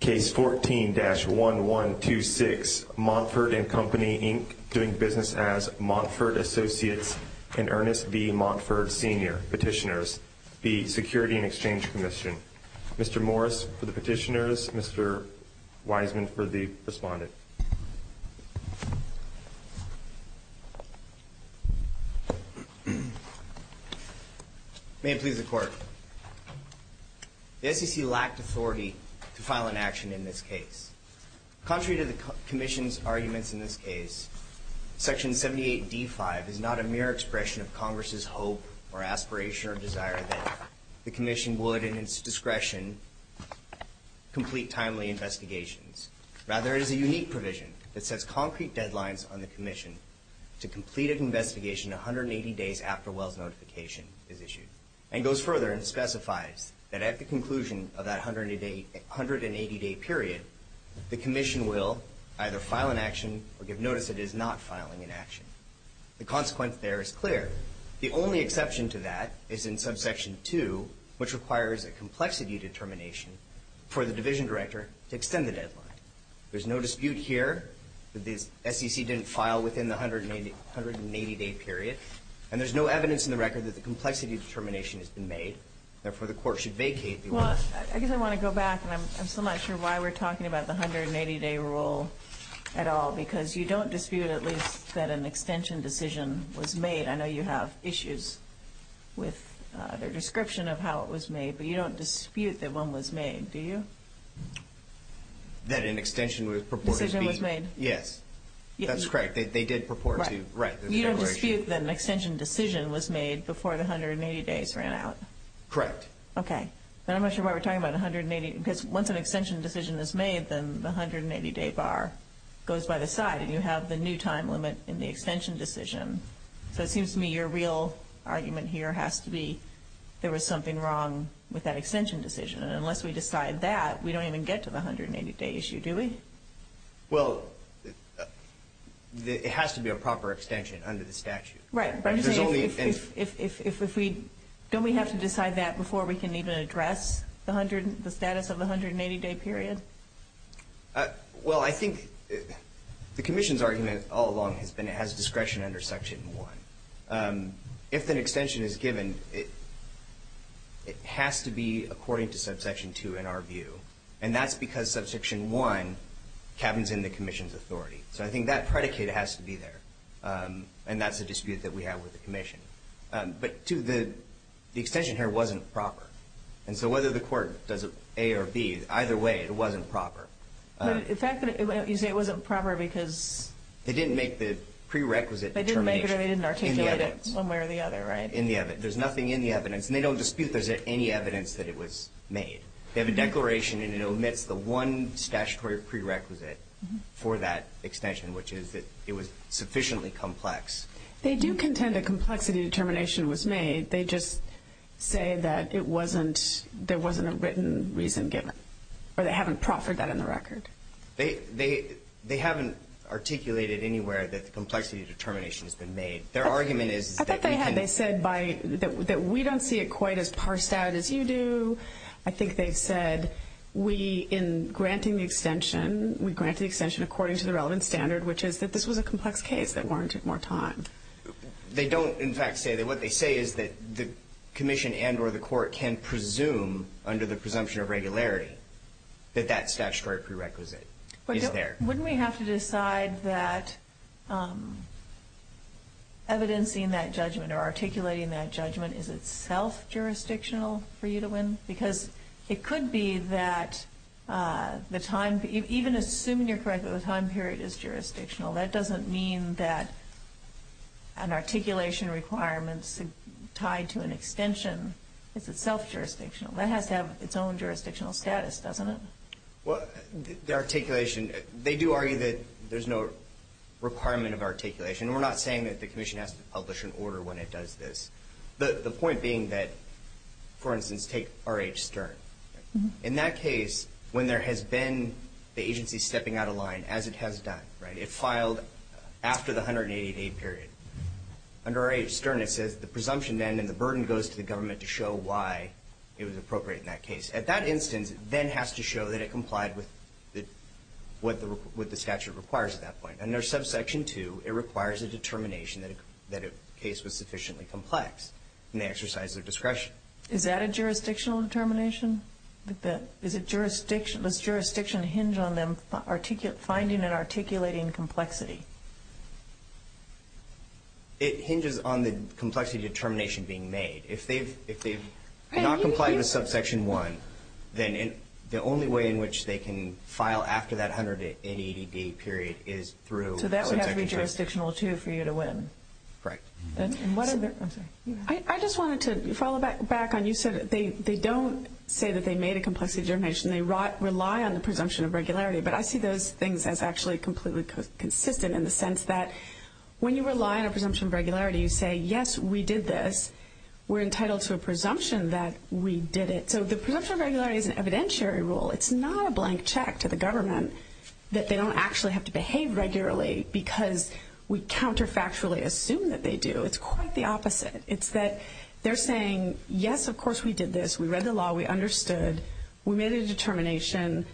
Case 14-1126, Montford and Company, Inc., doing business as Montford Associates and Ernest V. Montford Sr. Petitioners, v. Security and Exchange Commission. Mr. Morris for the petitioners, Mr. Wiseman for the respondent. The SEC lacked authority to file an action in this case. Contrary to the Commission's arguments in this case, Section 78d5 is not a mere expression of Congress's hope or aspiration or desire that the Commission would, in its discretion, complete timely investigations. Rather, it is a unique provision that sets concrete deadlines on the Commission to complete an investigation 180 days after Welles' notification is issued. And goes further and specifies that at the conclusion of that 180-day period, the Commission will either file an action or give notice that it is not filing an action. The consequence there is clear. The only exception to that is in subsection 2, which requires a complexity determination for the Division Director to extend the deadline. There's no dispute here that the SEC didn't file within the 180-day period. And there's no evidence in the record that the complexity determination has been made. Therefore, the Court should vacate the order. Well, I guess I want to go back, and I'm still not sure why we're talking about the 180-day rule at all, because you don't dispute at least that an extension decision was made. I know you have issues with the description of how it was made, but you don't dispute that one was made, do you? That an extension was purported to be... Decision was made. Yes. That's correct. They did purport to... Right. You don't dispute that an extension decision was made before the 180 days ran out. Correct. Okay. But I'm not sure why we're talking about 180... because once an extension decision is made, then the 180-day bar goes by the side, and you have the new time limit in the extension decision. So it seems to me your real argument here has to be there was something wrong with that extension decision. And unless we decide that, we don't even get to the 180-day issue, do we? Well, it has to be a proper extension under the statute. Right. But I'm just saying if we... don't we have to decide that before we can even address the status of the 180-day period? Well, I think the Commission's argument all along has been it has discretion under Section 1. If an extension is given, it has to be according to Subsection 2 in our view. And that's because Subsection 1 cabins in the Commission's authority. So I think that predicate has to be there. And that's a dispute that we have with the Commission. But, too, the extension here wasn't proper. And so whether the court does it A or B, either way, it wasn't proper. In fact, you say it wasn't proper because... They didn't make the prerequisite termination. They didn't make it or they didn't articulate it one way or the other, right? In the evidence. There's nothing in the evidence. And they don't dispute there's any evidence that it was made. They have a declaration, and it omits the one statutory prerequisite for that extension, which is that it was sufficiently complex. They do contend a complexity determination was made. They just say that it wasn't... there wasn't a written reason given. Or they haven't proffered that in the record. They haven't articulated anywhere that the complexity determination has been made. Their argument is... I thought they had. They said that we don't see it quite as parsed out as you do. I think they've said we, in granting the extension, we grant the extension according to the relevant standard, which is that this was a complex case that warranted more time. They don't, in fact, say that. What they say is that the commission and or the court can presume, under the presumption of regularity, that that statutory prerequisite is there. Wouldn't we have to decide that evidencing that judgment or articulating that judgment is itself jurisdictional for you to win? Because it could be that the time... even assuming you're correct that the time period is jurisdictional, that doesn't mean that an articulation requirement's tied to an extension. It's itself jurisdictional. That has to have its own jurisdictional status, doesn't it? Well, the articulation... they do argue that there's no requirement of articulation. We're not saying that the commission has to publish an order when it does this. The point being that, for instance, take R.H. Stern. In that case, when there has been the agency stepping out of line, as it has done, right, it filed after the 188A period. Under R.H. Stern, it says the presumption then and the burden goes to the government to show why it was appropriate in that case. At that instance, it then has to show that it complied with what the statute requires at that point. Under subsection 2, it requires a determination that a case was sufficiently complex, and they exercise their discretion. Is that a jurisdictional determination? Does jurisdiction hinge on them finding and articulating complexity? It hinges on the complexity determination being made. If they've not complied with subsection 1, then the only way in which they can file after that 188A period is through subsection 2. So that would have to be jurisdictional, too, for you to win. Correct. I just wanted to follow back on you said they don't say that they made a complexity determination. They rely on the presumption of regularity. But I see those things as actually completely consistent in the sense that when you rely on a presumption of regularity, you say, yes, we did this. We're entitled to a presumption that we did it. So the presumption of regularity is an evidentiary rule. It's not a blank check to the government that they don't actually have to behave regularly because we counterfactually assume that they do. It's quite the opposite. It's that they're saying, yes, of course we did this. We read the law. We understood. We made a determination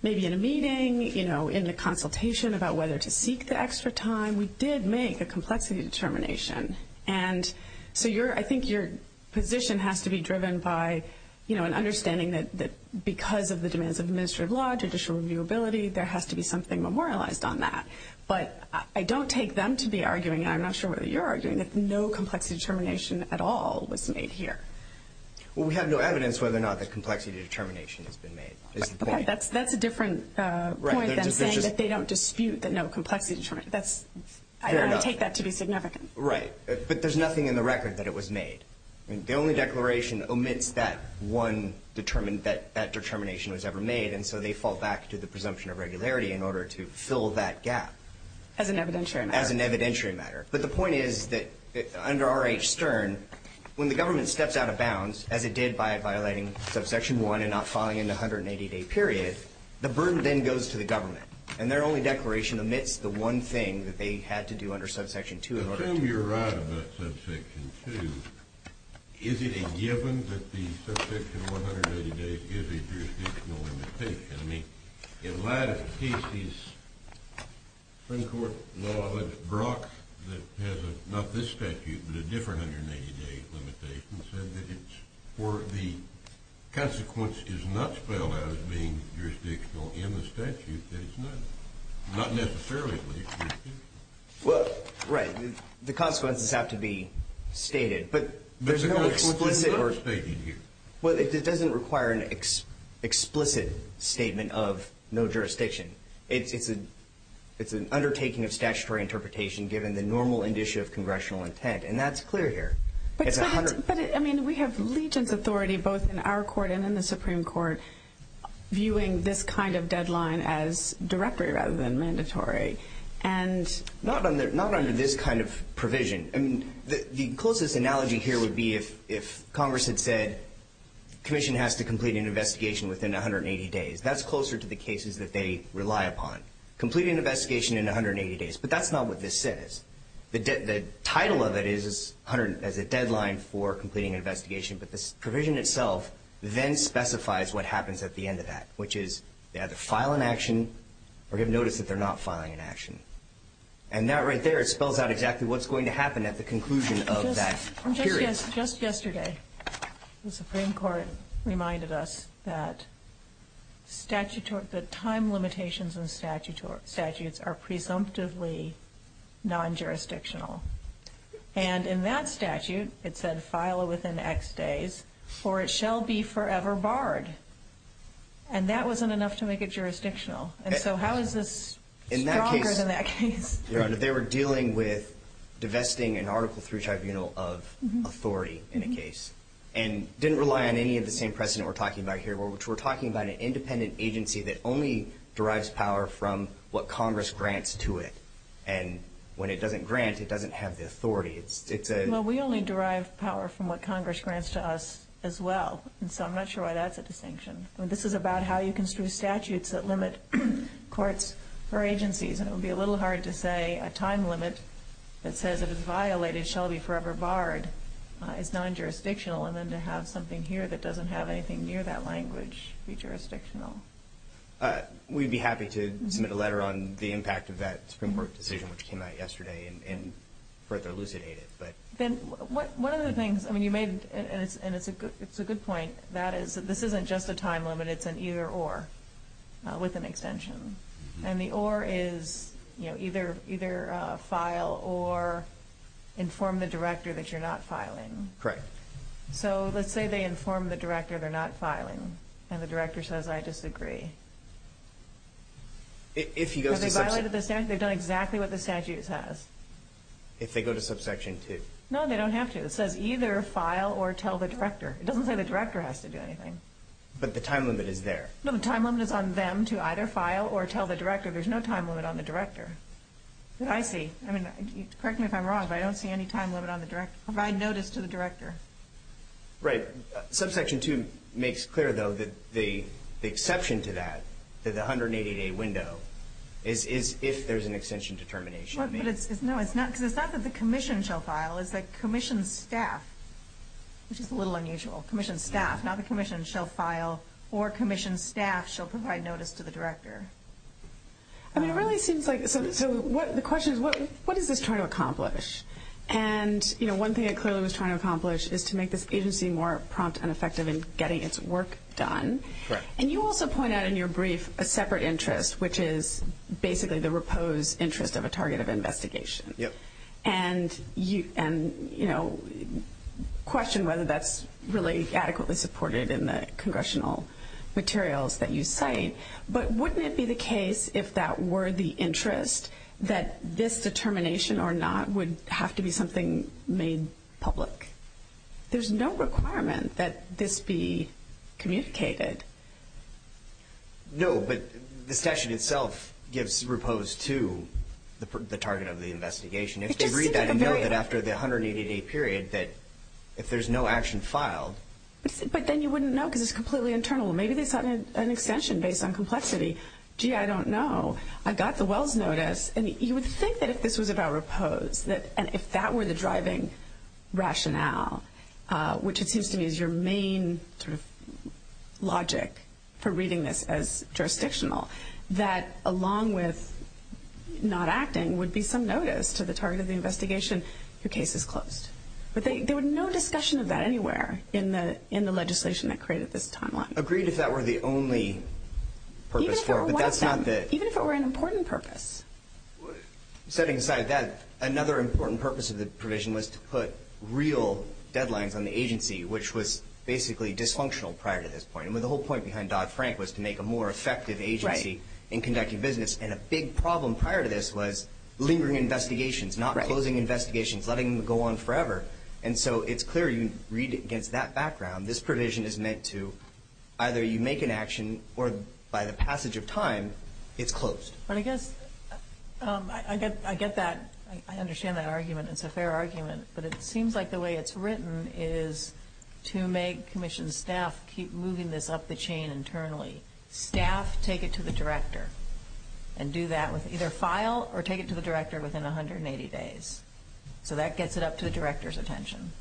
maybe in a meeting, you know, in the consultation about whether to seek the extra time. We did make a complexity determination. And so I think your position has to be driven by, you know, an understanding that because of the demands of administrative law, judicial reviewability, there has to be something memorialized on that. But I don't take them to be arguing, and I'm not sure whether you're arguing, that no complexity determination at all was made here. Well, we have no evidence whether or not the complexity determination has been made. That's a different point than saying that they don't dispute the no complexity determination. I don't take that to be significant. Right. But there's nothing in the record that it was made. The only declaration omits that determination was ever made, and so they fall back to the presumption of regularity in order to fill that gap. As an evidentiary matter. As an evidentiary matter. But the point is that under R.H. Stern, when the government steps out of bounds, as it did by violating subsection 1 and not filing in the 180-day period, the burden then goes to the government, and their only declaration omits the one thing that they had to do under subsection 2. Well, if I can assume you're right about subsection 2, is it a given that the subsection 180 days is a jurisdictional limitation? I mean, in light of Casey's Supreme Court law, Brock, that has not this statute but a different 180-day limitation, said that the consequence is not spelled out as being jurisdictional in the statute, that it's not necessarily jurisdictional. Well, right. The consequences have to be stated. But there's no explicit or ‑‑ There's a kind of split between what's stated here. Well, it doesn't require an explicit statement of no jurisdiction. It's an undertaking of statutory interpretation given the normal indicia of congressional intent, and that's clear here. But, I mean, we have legion's authority both in our court and in the Supreme Court viewing this kind of deadline as directory rather than mandatory, and ‑‑ Not under this kind of provision. I mean, the closest analogy here would be if Congress had said commission has to complete an investigation within 180 days. That's closer to the cases that they rely upon, complete an investigation in 180 days. But that's not what this says. The title of it is a deadline for completing an investigation, but this provision itself then specifies what happens at the end of that, which is they either file an action or give notice that they're not filing an action. And that right there, it spells out exactly what's going to happen at the conclusion of that period. Just yesterday, the Supreme Court reminded us that statute ‑‑ that time limitations in statutes are presumptively nonjurisdictional. And in that statute, it said file it within X days or it shall be forever barred. And that wasn't enough to make it jurisdictional. And so how is this stronger than that case? They were dealing with divesting an article through tribunal of authority in a case and didn't rely on any of the same precedent we're talking about here, which we're talking about an independent agency that only derives power from what Congress grants to it. And when it doesn't grant, it doesn't have the authority. Well, we only derive power from what Congress grants to us as well. And so I'm not sure why that's a distinction. This is about how you construe statutes that limit courts or agencies. And it would be a little hard to say a time limit that says it is violated shall be forever barred is nonjurisdictional, and then to have something here that doesn't have anything near that language be jurisdictional. We'd be happy to submit a letter on the impact of that Supreme Court decision, which came out yesterday, and further elucidate it. One of the things you made, and it's a good point, this isn't just a time limit, it's an either-or with an extension. And the or is either file or inform the director that you're not filing. Correct. So let's say they inform the director they're not filing, and the director says, I disagree. Are they violated the statute? They've done exactly what the statute says. If they go to subsection 2? No, they don't have to. It says either file or tell the director. It doesn't say the director has to do anything. But the time limit is there. No, the time limit is on them to either file or tell the director. There's no time limit on the director. But I see. I mean, correct me if I'm wrong, but I don't see any time limit on the director. Provide notice to the director. Right. Subsection 2 makes clear, though, that the exception to that, the 188A window, is if there's an extension determination. No, it's not. Because it's not that the commission shall file. It's that commission staff, which is a little unusual, commission staff, not the commission shall file or commission staff shall provide notice to the director. I mean, it really seems like, so the question is, what is this trying to accomplish? And, you know, one thing it clearly was trying to accomplish is to make this agency more prompt and effective in getting its work done. And you also point out in your brief a separate interest, which is basically the repose interest of a target of investigation. Yep. And, you know, question whether that's really adequately supported in the congressional materials that you cite. But wouldn't it be the case, if that were the interest, that this determination or not would have to be something made public? There's no requirement that this be communicated. No, but the session itself gives repose to the target of the investigation. If you read that and note that after the 188A period that if there's no action filed. But then you wouldn't know because it's completely internal. Maybe they cited an extension based on complexity. Gee, I don't know. I got the Wells notice. And you would think that if this was about repose and if that were the driving rationale, which it seems to me is your main sort of logic for reading this as jurisdictional, that along with not acting would be some notice to the target of the investigation, your case is closed. But there was no discussion of that anywhere in the legislation that created this timeline. Agreed if that were the only purpose for it. Even if it were an important purpose. Setting aside that, another important purpose of the provision was to put real deadlines on the agency, which was basically dysfunctional prior to this point. The whole point behind Dodd-Frank was to make a more effective agency in conducting business. And a big problem prior to this was lingering investigations, not closing investigations, letting them go on forever. And so it's clear you read it against that background. This provision is meant to either you make an action or by the passage of time it's closed. But I guess I get that. I understand that argument. It's a fair argument. But it seems like the way it's written is to make commission staff keep moving this up the chain internally. Staff take it to the director and do that with either file or take it to the director within 180 days. So that gets it up to the director's attention.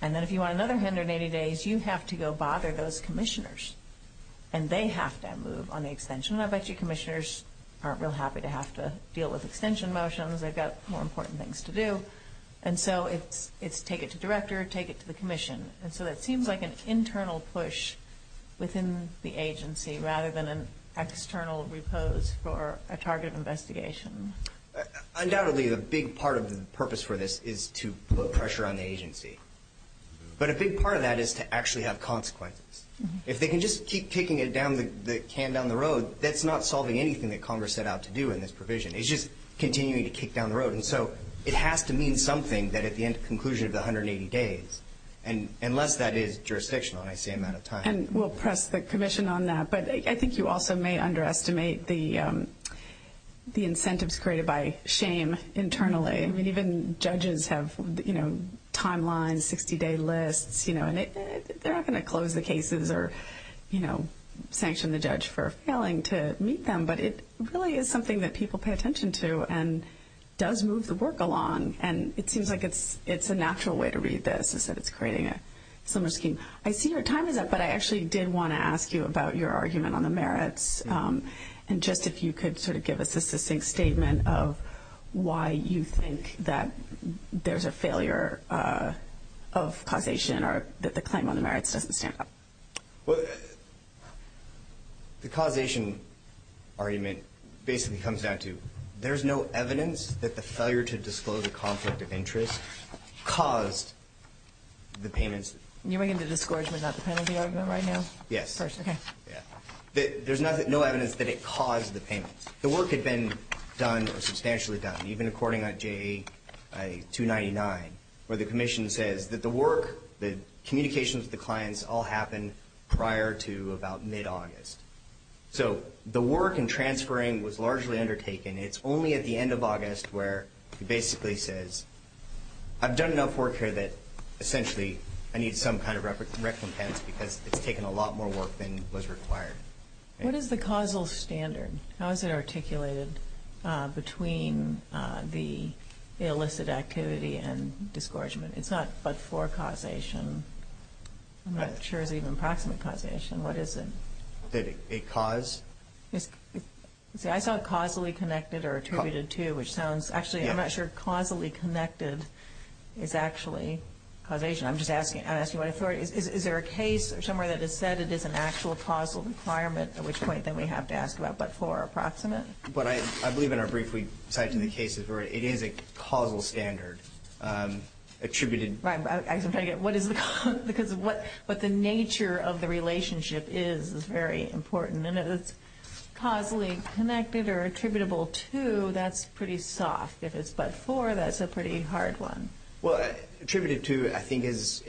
And then if you want another 180 days, you have to go bother those commissioners. And they have to move on the extension. I bet you commissioners aren't real happy to have to deal with extension motions. They've got more important things to do. And so it's take it to director, take it to the commission. And so it seems like an internal push within the agency rather than an external repose for a target investigation. Undoubtedly, a big part of the purpose for this is to put pressure on the agency. But a big part of that is to actually have consequences. If they can just keep kicking it down the road, that's not solving anything that Congress set out to do in this provision. It's just continuing to kick down the road. And so it has to mean something that at the end, conclusion of the 180 days, unless that is jurisdictional. And I see I'm out of time. And we'll press the commission on that. But I think you also may underestimate the incentives created by shame internally. I mean, even judges have, you know, timelines, 60-day lists, you know. And they're not going to close the cases or, you know, sanction the judge for failing to meet them. But it really is something that people pay attention to and does move the work along. And it seems like it's a natural way to read this is that it's creating a similar scheme. I see your time is up, but I actually did want to ask you about your argument on the merits. And just if you could sort of give us a succinct statement of why you think that there's a failure of causation or that the claim on the merits doesn't stand up. Well, the causation argument basically comes down to there's no evidence that the failure to disclose a conflict of interest caused the payments. You're making the discouragement, not the penalty argument right now? Yes. Okay. Yeah. There's no evidence that it caused the payments. The work had been done or substantially done, even according to JA-299, where the commission says that the work, the communications with the clients all happened prior to about mid-August. So the work and transferring was largely undertaken. It's only at the end of August where it basically says, I've done enough work here that essentially I need some kind of recompense because it's taken a lot more work than was required. What is the causal standard? How is it articulated between the illicit activity and discouragement? It's not but for causation. I'm not sure it's even proximate causation. What is it? Did it cause? See, I saw causally connected or attributed to, which sounds, actually, I'm not sure causally connected is actually causation. I'm just asking, I'm asking what authority, is there a case somewhere that has said it is an actual causal requirement, at which point then we have to ask about but for approximate? But I believe in our brief we cited in the cases where it is a causal standard attributed. Because what the nature of the relationship is is very important. And if it's causally connected or attributable to, that's pretty soft. If it's but for, that's a pretty hard one. Well, attributed to, I think, is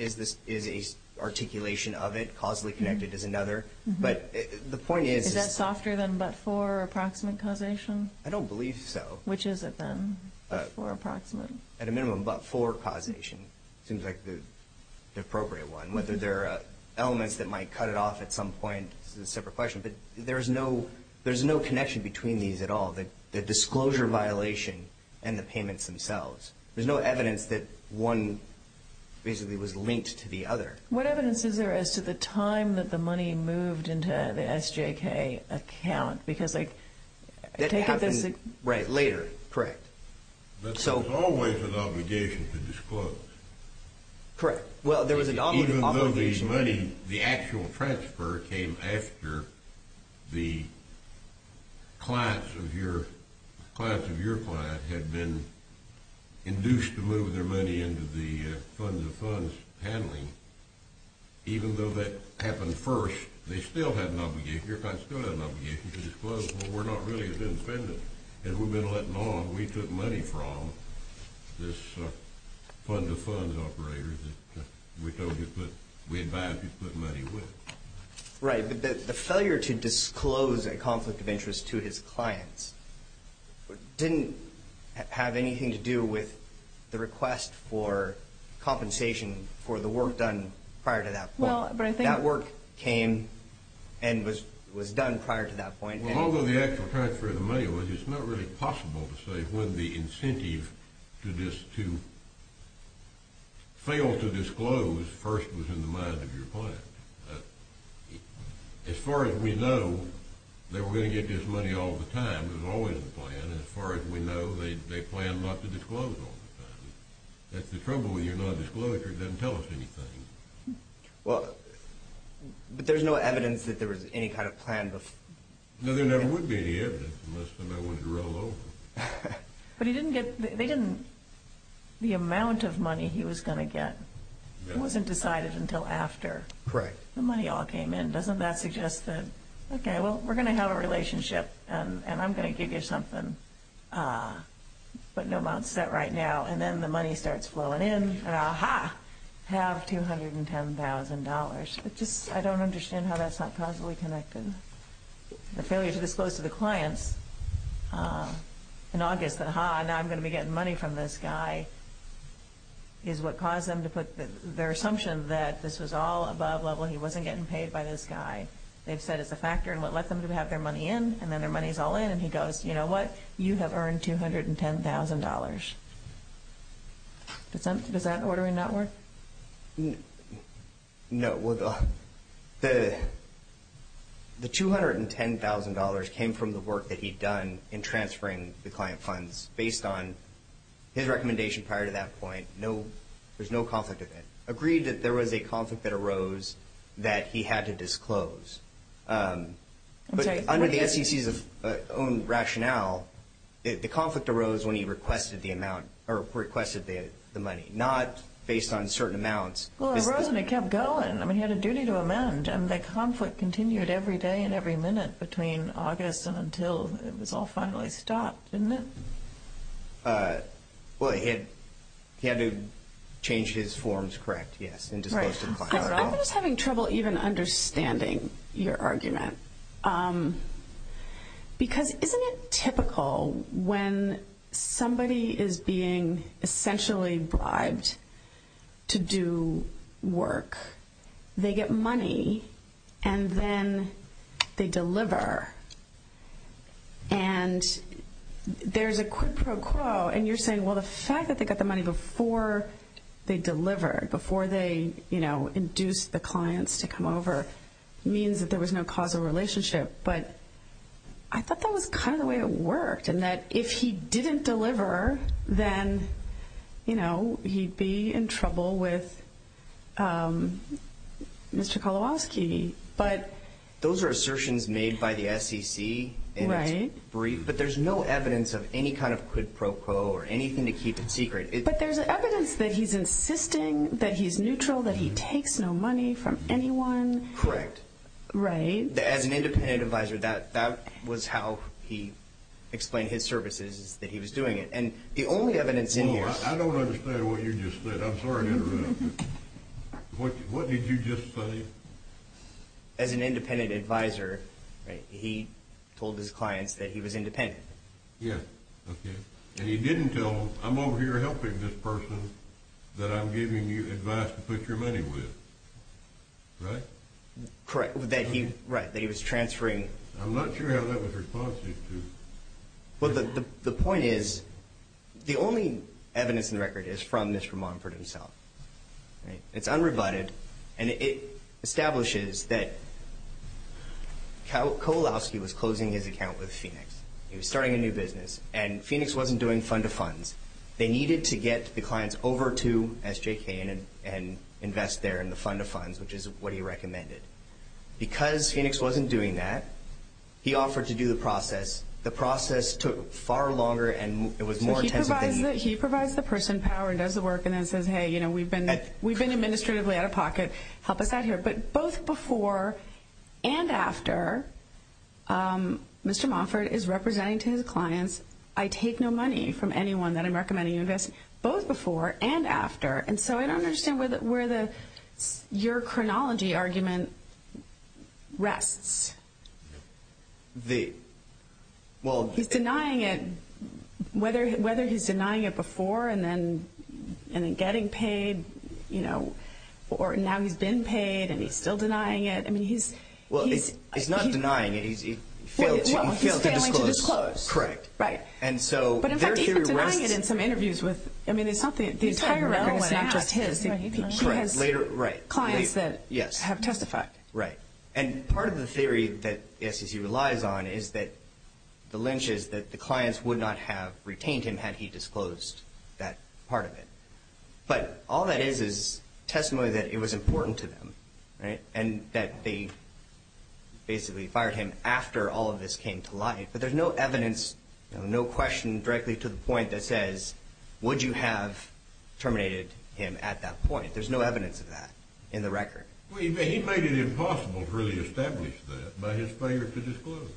a articulation of it. Causally connected is another. But the point is. Is that softer than but for approximate causation? I don't believe so. Which is it then? But for approximate. At a minimum. But for causation. Seems like the appropriate one. Whether there are elements that might cut it off at some point is a separate question. But there's no connection between these at all. The disclosure violation and the payments themselves. There's no evidence that one basically was linked to the other. What evidence is there as to the time that the money moved into the SJK account? Because I take it this. Right, later. Correct. But there's always an obligation to disclose. Correct. Well, there was an obligation. Even though the actual transfer came after the clients of your client had been induced to move their money into the funds of funds handling. Even though that happened first, they still had an obligation. Your client still had an obligation to disclose. Well, we're not really as independent as we've been letting on. We took money from this fund-to-funds operator that we advised you to put money with. Right. But the failure to disclose a conflict of interest to his clients didn't have anything to do with the request for compensation for the work done prior to that point. That work came and was done prior to that point. Well, although the actual transfer of the money was, it's not really possible to say when the incentive to fail to disclose first was in the mind of your client. As far as we know, they were going to get this money all the time. It was always the plan. As far as we know, they planned not to disclose all the time. That's the trouble with your non-disclosure. It doesn't tell us anything. Well, but there's no evidence that there was any kind of plan before. No, there never would be any evidence unless somebody wanted to roll over. But he didn't get the amount of money he was going to get. It wasn't decided until after. Correct. The money all came in. Doesn't that suggest that, okay, well, we're going to have a relationship, and I'm going to give you something, but no amount set right now. And then the money starts flowing in, and ah-ha, have $210,000. I don't understand how that's not causally connected. The failure to disclose to the clients in August that, ah-ha, now I'm going to be getting money from this guy, is what caused them to put their assumption that this was all above level, he wasn't getting paid by this guy. They've said it's a factor, and what let them have their money in, and then their money's all in, and he goes, you know what? You have earned $210,000. Does that ordering not work? No. The $210,000 came from the work that he'd done in transferring the client funds based on his recommendation prior to that point. There's no conflict of it. Agreed that there was a conflict that arose that he had to disclose. But under the SEC's own rationale, the conflict arose when he requested the money, not based on certain amounts. Well, it arose and it kept going. I mean, he had a duty to amend, and the conflict continued every day and every minute between August and until it was all finally stopped, didn't it? Well, he had to change his forms, correct, yes, and disclose to the client. I'm just having trouble even understanding your argument, because isn't it typical when somebody is being essentially bribed to do work, they get money and then they deliver, and there's a quid pro quo, and you're saying, well, the fact that they got the money before they delivered, before they, you know, induced the clients to come over, means that there was no causal relationship. But I thought that was kind of the way it worked, in that if he didn't deliver, then, you know, he'd be in trouble with Mr. Kolowoski. Those are assertions made by the SEC, and it's brief, but there's no evidence of any kind of quid pro quo or anything to keep it secret. But there's evidence that he's insisting that he's neutral, that he takes no money from anyone. Correct. Right. As an independent advisor, that was how he explained his services, that he was doing it. Well, I don't understand what you just said. I'm sorry to interrupt. What did you just say? As an independent advisor, he told his clients that he was independent. Yes. Okay. And he didn't tell them, I'm over here helping this person that I'm giving you advice to put your money with. Right? Correct. That he was transferring. I'm not sure how that was responsive to. Well, the point is, the only evidence in the record is from Mr. Montford himself. It's unrebutted, and it establishes that Kolowoski was closing his account with Phoenix. He was starting a new business, and Phoenix wasn't doing fund-to-funds. They needed to get the clients over to SJK and invest there in the fund-to-funds, which is what he recommended. Because Phoenix wasn't doing that, he offered to do the process. The process took far longer, and it was more intensive than he did. So he provides the person power and does the work and then says, hey, we've been administratively out of pocket. Help us out here. But both before and after, Mr. Montford is representing to his clients, I take no money from anyone that I'm recommending you invest. Both before and after. And so I don't understand where your chronology argument rests. He's denying it, whether he's denying it before and then getting paid, or now he's been paid and he's still denying it. He's not denying it. He's failing to disclose. Correct. Right. But in fact, he's been denying it in some interviews. I mean, the entire record is not just his. He has clients that have testified. Right. And part of the theory that the SEC relies on is that the lynch is that the clients would not have retained him had he disclosed that part of it. But all that is is testimony that it was important to them and that they basically fired him after all of this came to light. But there's no evidence, no question directly to the point that says, would you have terminated him at that point? There's no evidence of that in the record. Well, he made it impossible to really establish that by his failure to disclose.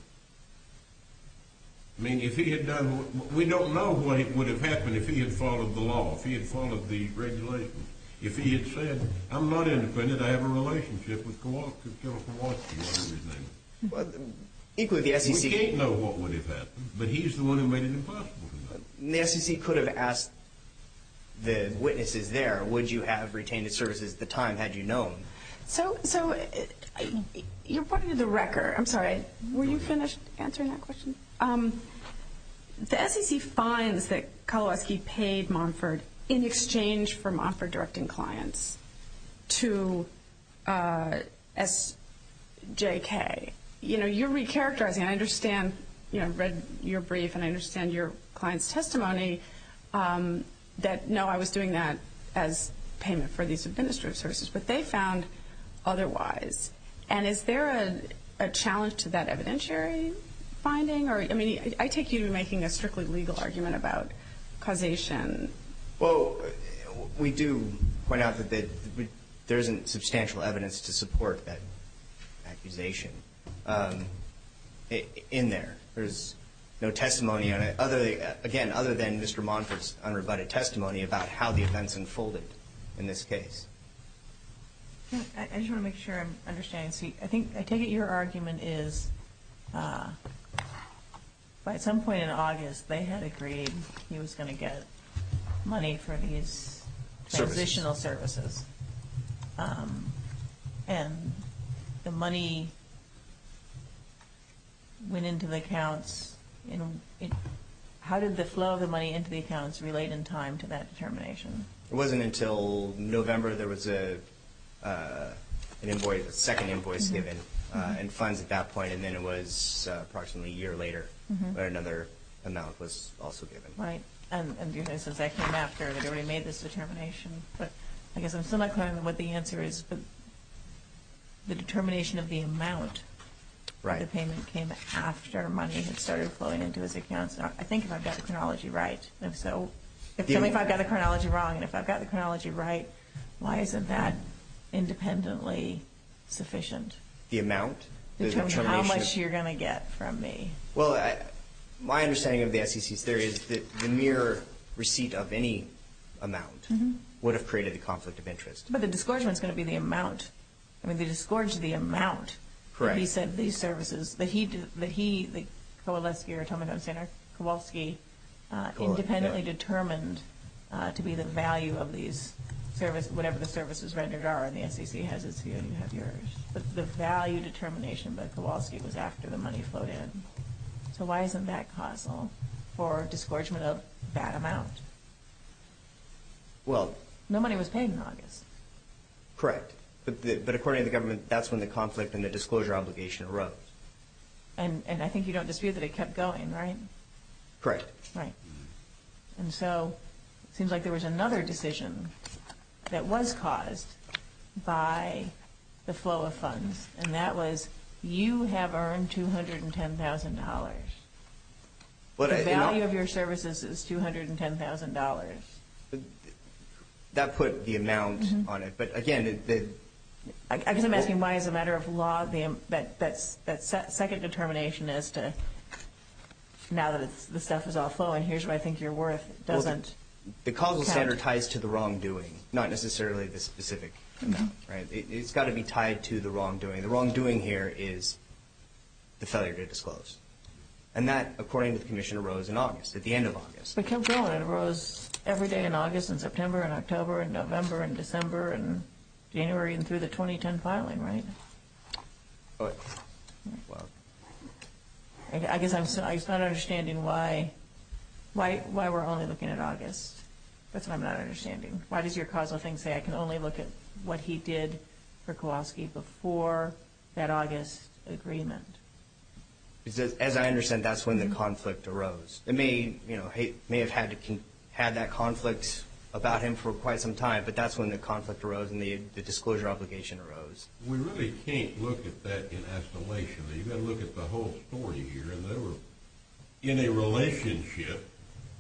I mean, if he had done, we don't know what would have happened if he had followed the law, if he had followed the regulations. If he had said, I'm not independent, I have a relationship with Kowalski or everything. We can't know what would have happened, but he's the one who made it impossible. The SEC could have asked the witnesses there, would you have retained his services at the time had you known? So you're pointing to the record. I'm sorry, were you finished answering that question? The SEC finds that Kowalski paid Monford in exchange for Monford directing clients to SJK. You know, you're recharacterizing. I understand, you know, I've read your brief and I understand your client's testimony that, no, I was doing that as payment for these administrative services, but they found otherwise. And is there a challenge to that evidentiary finding? I mean, I take you to be making a strictly legal argument about causation. Well, we do point out that there isn't substantial evidence to support that accusation in there. There's no testimony, again, other than Mr. Monford's unrebutted testimony about how the events unfolded in this case. I just want to make sure I'm understanding. I take it your argument is by some point in August they had agreed he was going to get money for these transitional services. And the money went into the accounts. How did the flow of the money into the accounts relate in time to that determination? It wasn't until November there was a second invoice given and funds at that point, and then it was approximately a year later where another amount was also given. Right. And since that came after, they'd already made this determination. But I guess I'm still not clear on what the answer is. But the determination of the amount of the payment came after money had started flowing into his accounts. I think if I've got the chronology right. If so, tell me if I've got the chronology wrong. And if I've got the chronology right, why isn't that independently sufficient? The amount? In terms of how much you're going to get from me. Well, my understanding of the SEC's theory is that the mere receipt of any amount would have created a conflict of interest. But the disgorgement is going to be the amount. I mean, they disgorged the amount. Correct. He said these services, that he, Kowalski, independently determined to be the value of these services, whatever the services rendered are, and the SEC has its view and you have yours. But the value determination by Kowalski was after the money flowed in. So why isn't that causal for disgorgement of that amount? No money was paid in August. Correct. But according to the government, that's when the conflict and the disclosure obligation erupted. And I think you don't dispute that it kept going, right? Correct. Right. And so it seems like there was another decision that was caused by the flow of funds, and that was you have earned $210,000. The value of your services is $210,000. That put the amount on it. But, again, the – I guess I'm asking why, as a matter of law, that second determination as to now that the stuff is all flowing, here's what I think you're worth doesn't count. Well, the causal standard ties to the wrongdoing, not necessarily the specific amount, right? It's got to be tied to the wrongdoing. The wrongdoing here is the failure to disclose. And that, according to the Commissioner, arose in August, at the end of August. But it kept going. It arose every day in August, in September, in October, in November, in December, in January, and through the 2010 filing, right? I guess I'm not understanding why we're only looking at August. That's what I'm not understanding. Why does your causal thing say I can only look at what he did for Kowalski before that August agreement? As I understand, that's when the conflict arose. It may have had that conflict about him for quite some time, but that's when the conflict arose and the disclosure obligation arose. We really can't look at that in escalation. You've got to look at the whole story here. And they were in a relationship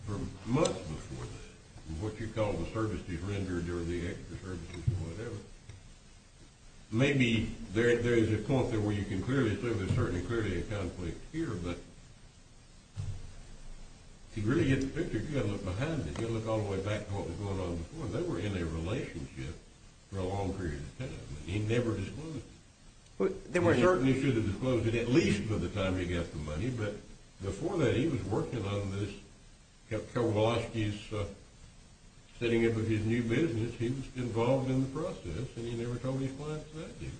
for months before this, what you call the services rendered or the extra services or whatever. Maybe there is a point where you can clearly say there's certainly clearly a conflict here, but if you really get the picture, you've got to look behind it. You've got to look all the way back to what was going on before. They were in a relationship for a long period of time. He never disclosed it. They certainly should have disclosed it at least by the time he got the money. But before that, he was working on this, Kowalski's setting up his new business. He was involved in the process, and he never told his clients that he was.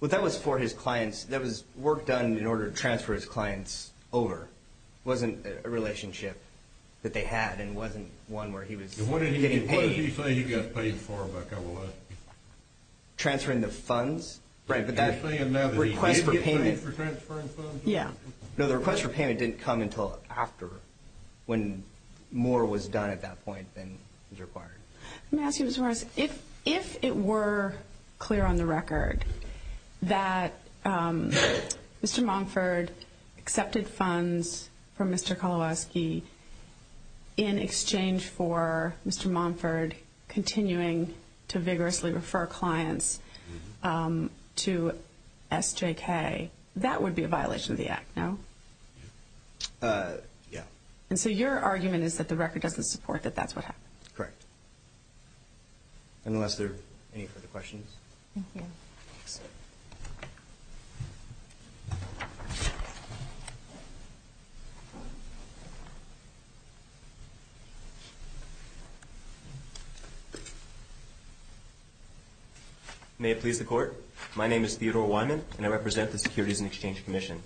Well, that was for his clients. That was work done in order to transfer his clients over. It wasn't a relationship that they had, and it wasn't one where he was getting paid. And what did he say he got paid for by Kowalski? Transferring the funds. Right, but that request for payment. Are you saying now that he did get paid for transferring funds? Yeah. No, the request for payment didn't come until after, when more was done at that point than was required. Let me ask you this, Morris. If it were clear on the record that Mr. Monford accepted funds from Mr. Kowalski in exchange for Mr. Monford continuing to vigorously refer clients to SJK, that would be a violation of the act, no? Yeah. And so your argument is that the record doesn't support that that's what happened? Correct. Unless there are any further questions. Thank you. Thanks. May it please the Court. My name is Theodore Wyman, and I represent the Securities and Exchange Commission.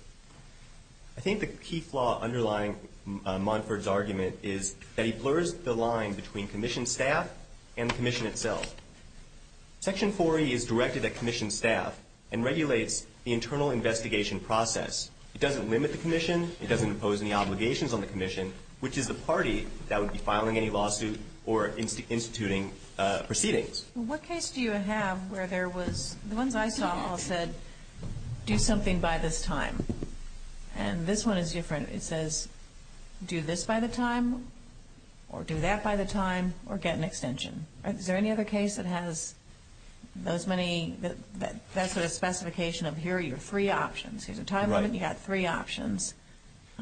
I think the key flaw underlying Monford's argument is that he blurs the line between Commission staff and the Commission itself. Section 4E is directed at Commission staff and regulates the internal investigation process. It doesn't limit the Commission. It doesn't impose any obligations on the Commission, which is the party that would be filing any lawsuit or instituting proceedings. What case do you have where there was, the ones I saw all said, do something by this time. And this one is different. It says do this by the time or do that by the time or get an extension. Is there any other case that has those many, that sort of specification of here are your three options. Here's a time limit. You've got three options.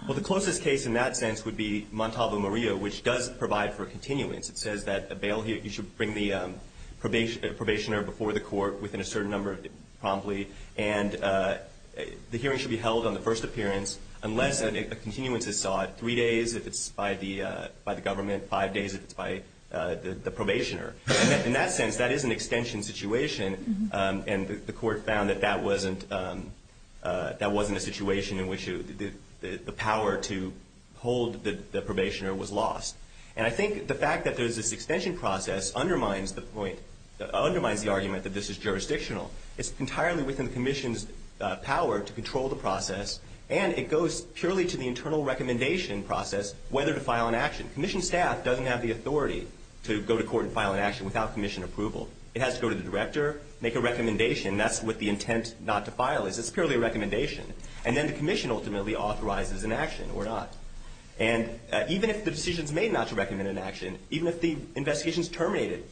Well, the closest case in that sense would be Montalvo Maria, which does provide for a continuance. It says that you should bring the probationer before the court within a certain number promptly, and the hearing should be held on the first appearance unless a continuance is sought, three days if it's by the government, five days if it's by the probationer. In that sense, that is an extension situation, and the court found that that wasn't a situation in which the power to hold the probationer was lost. And I think the fact that there's this extension process undermines the point, undermines the argument that this is jurisdictional. It's entirely within the commission's power to control the process, and it goes purely to the internal recommendation process whether to file an action. Commission staff doesn't have the authority to go to court and file an action without commission approval. It has to go to the director, make a recommendation. That's what the intent not to file is. It's purely a recommendation. And then the commission ultimately authorizes an action or not. And even if the decision is made not to recommend an action, even if the investigation is terminated,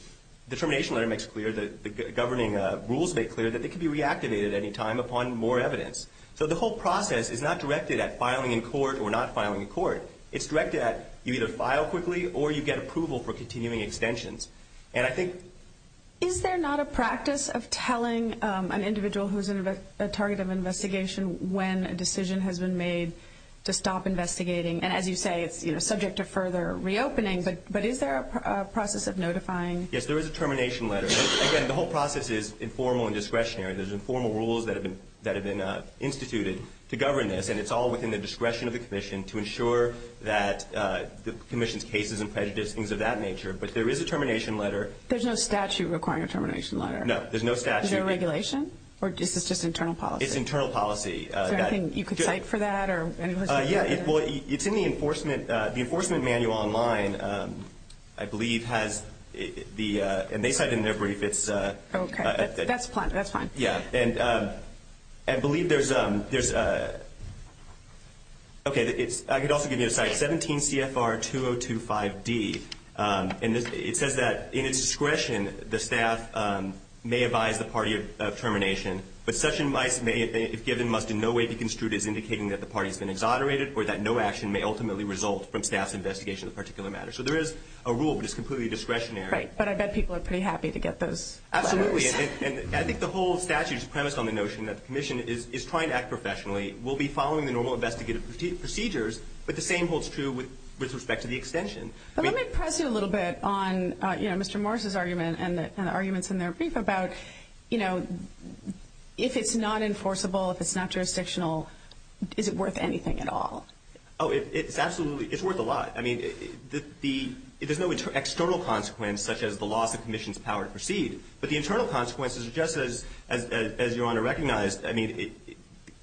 the termination letter makes clear, the governing rules make clear, that they can be reactivated at any time upon more evidence. So the whole process is not directed at filing in court or not filing in court. It's directed at you either file quickly or you get approval for continuing extensions. And I think... Is there not a practice of telling an individual who's a target of investigation when a decision has been made to stop investigating? And as you say, it's subject to further reopening. But is there a process of notifying? Yes, there is a termination letter. Again, the whole process is informal and discretionary. There's informal rules that have been instituted to govern this, and it's all within the discretion of the commission to ensure that the commission's cases and prejudice, things of that nature. But there is a termination letter. There's no statute requiring a termination letter. No, there's no statute. Is there a regulation? Or is this just internal policy? It's internal policy. So I think you could cite for that? Yeah. Well, it's in the enforcement manual online, I believe, has the... And they cite in their brief, it's... Okay. That's fine. Yeah. And I believe there's... Okay, I could also give you a cite. 17 CFR 2025D. And it says that in its discretion, the staff may advise the party of termination. But such advice may, if given, must in no way be construed as indicating that the party has been exonerated or that no action may ultimately result from staff's investigation of the particular matter. So there is a rule, but it's completely discretionary. Right. But I bet people are pretty happy to get those letters. Absolutely. And I think the whole statute is premised on the notion that the commission is trying to act professionally, will be following the normal investigative procedures, but the same holds true with respect to the extension. But let me press you a little bit on, you know, Mr. Morris' argument and the arguments in their brief about, you know, if it's not enforceable, if it's not jurisdictional, is it worth anything at all? Oh, it's absolutely... It's worth a lot. I mean, the... There's no external consequence, such as the loss of commission's power to proceed. But the internal consequences are just as Your Honor recognized. I mean,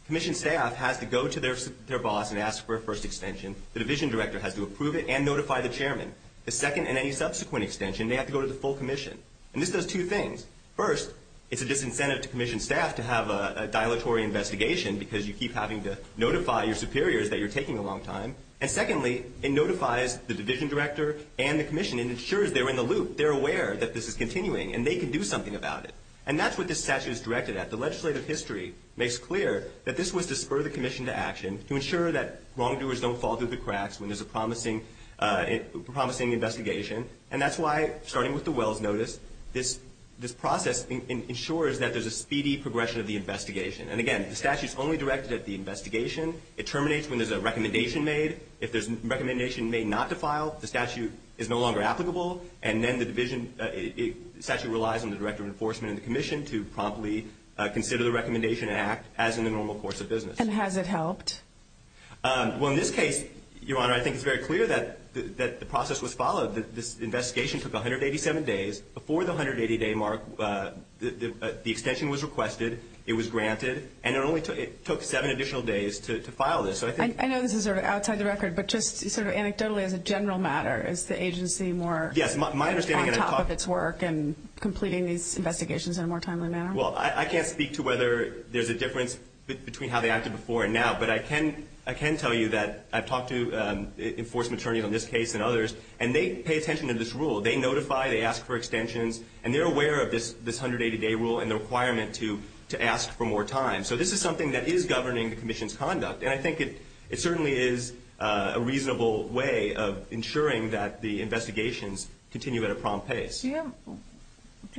commission staff has to go to their boss and ask for a first extension. The division director has to approve it and notify the chairman. The second and any subsequent extension, they have to go to the full commission. And this does two things. First, it's a disincentive to commission staff to have a dilatory investigation because you keep having to notify your superiors that you're taking a long time. And secondly, it notifies the division director and the commission and ensures they're in the loop. They're aware that this is continuing and they can do something about it. And that's what this statute is directed at. The legislative history makes clear that this was to spur the commission to action, to ensure that wrongdoers don't fall through the cracks when there's a promising investigation. And that's why, starting with the Wells Notice, this process ensures that there's a speedy progression of the investigation. And again, the statute's only directed at the investigation. It terminates when there's a recommendation made. If there's a recommendation made not to file, the statute is no longer applicable. And then the division statute relies on the director of enforcement and the commission to promptly consider the recommendation and act as in the normal course of business. And has it helped? Well, in this case, Your Honor, I think it's very clear that the process was followed. This investigation took 187 days. Before the 180-day mark, the extension was requested. It was granted. And it only took seven additional days to file this. I know this is sort of outside the record, but just sort of anecdotally as a general matter, is the agency more on top of its work in completing these investigations in a more timely manner? Well, I can't speak to whether there's a difference between how they acted before and now, but I can tell you that I've talked to enforcement attorneys on this case and others, and they pay attention to this rule. They notify, they ask for extensions, and they're aware of this 180-day rule and the requirement to ask for more time. So this is something that is governing the commission's conduct, and I think it certainly is a reasonable way of ensuring that the investigations continue at a prompt pace. Do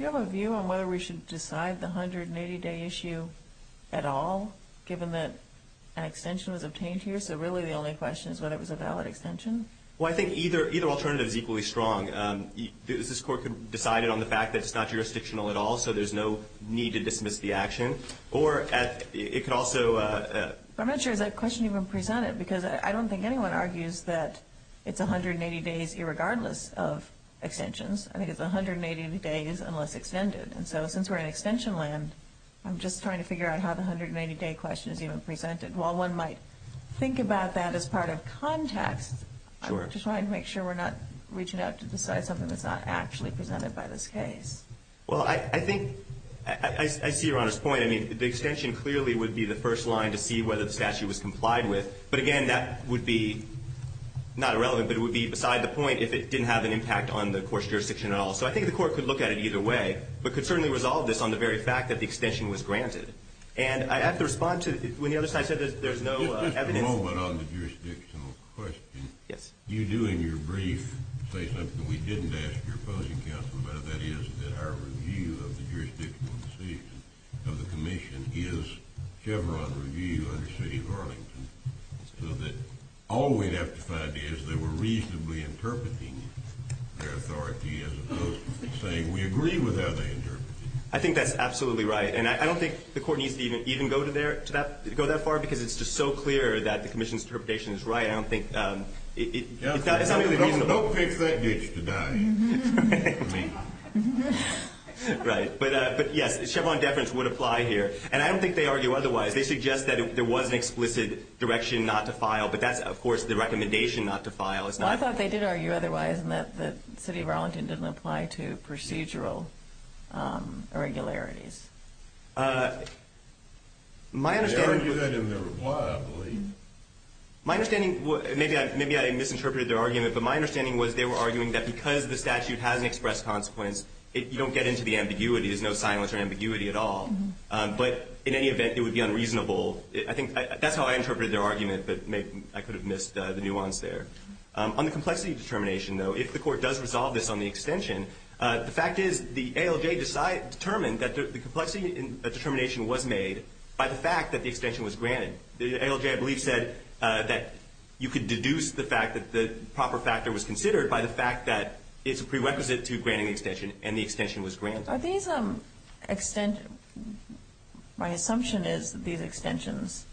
you have a view on whether we should decide the 180-day issue at all, given that an extension was obtained here? So really the only question is whether it was a valid extension? Well, I think either alternative is equally strong. This Court could decide it on the fact that it's not jurisdictional at all, so there's no need to dismiss the action. Or it could also – I'm not sure is that question even presented, because I don't think anyone argues that it's 180 days irregardless of extensions. I think it's 180 days unless extended. And so since we're in extension land, I'm just trying to figure out how the 180-day question is even presented. While one might think about that as part of context, I'm just trying to make sure we're not reaching out to decide something that's not actually presented by this case. Well, I think – I see Your Honor's point. I mean, the extension clearly would be the first line to see whether the statute was complied with. But again, that would be not irrelevant, but it would be beside the point if it didn't have an impact on the court's jurisdiction at all. So I think the Court could look at it either way, but could certainly resolve this on the very fact that the extension was granted. And I have to respond to – when the other side said there's no evidence – Just a moment on the jurisdictional question. Yes. You do in your brief say something we didn't ask your opposing counsel about, and that is that our review of the jurisdictional decision of the Commission is Chevron review under city of Arlington, so that all we'd have to find is they were reasonably interpreting their authority as opposed to saying we agree with how they interpreted it. I think that's absolutely right. And I don't think the Court needs to even go that far because it's just so clear that the Commission's interpretation is right. I don't think – it's not really reasonable. Don't fix that ditch today. Right. But yes, Chevron deference would apply here. And I don't think they argue otherwise. They suggest that there was an explicit direction not to file, but that's, of course, the recommendation not to file. Well, I thought they did argue otherwise in that the city of Arlington didn't apply to procedural irregularities. They argued that in their reply, I believe. My understanding – maybe I misinterpreted their argument, but my understanding was they were arguing that because the statute hasn't expressed consequence, you don't get into the ambiguity. There's no silence or ambiguity at all. But in any event, it would be unreasonable. I think that's how I interpreted their argument, but maybe I could have missed the nuance there. On the complexity determination, though, if the Court does resolve this on the extension, the fact is the ALJ determined that the complexity determination was made by the fact that the extension was granted. The ALJ, I believe, said that you could deduce the fact that the proper factor was considered by the fact that it's a prerequisite to granting the extension and the extension was granted. Are these extensions – my assumption is that these extensions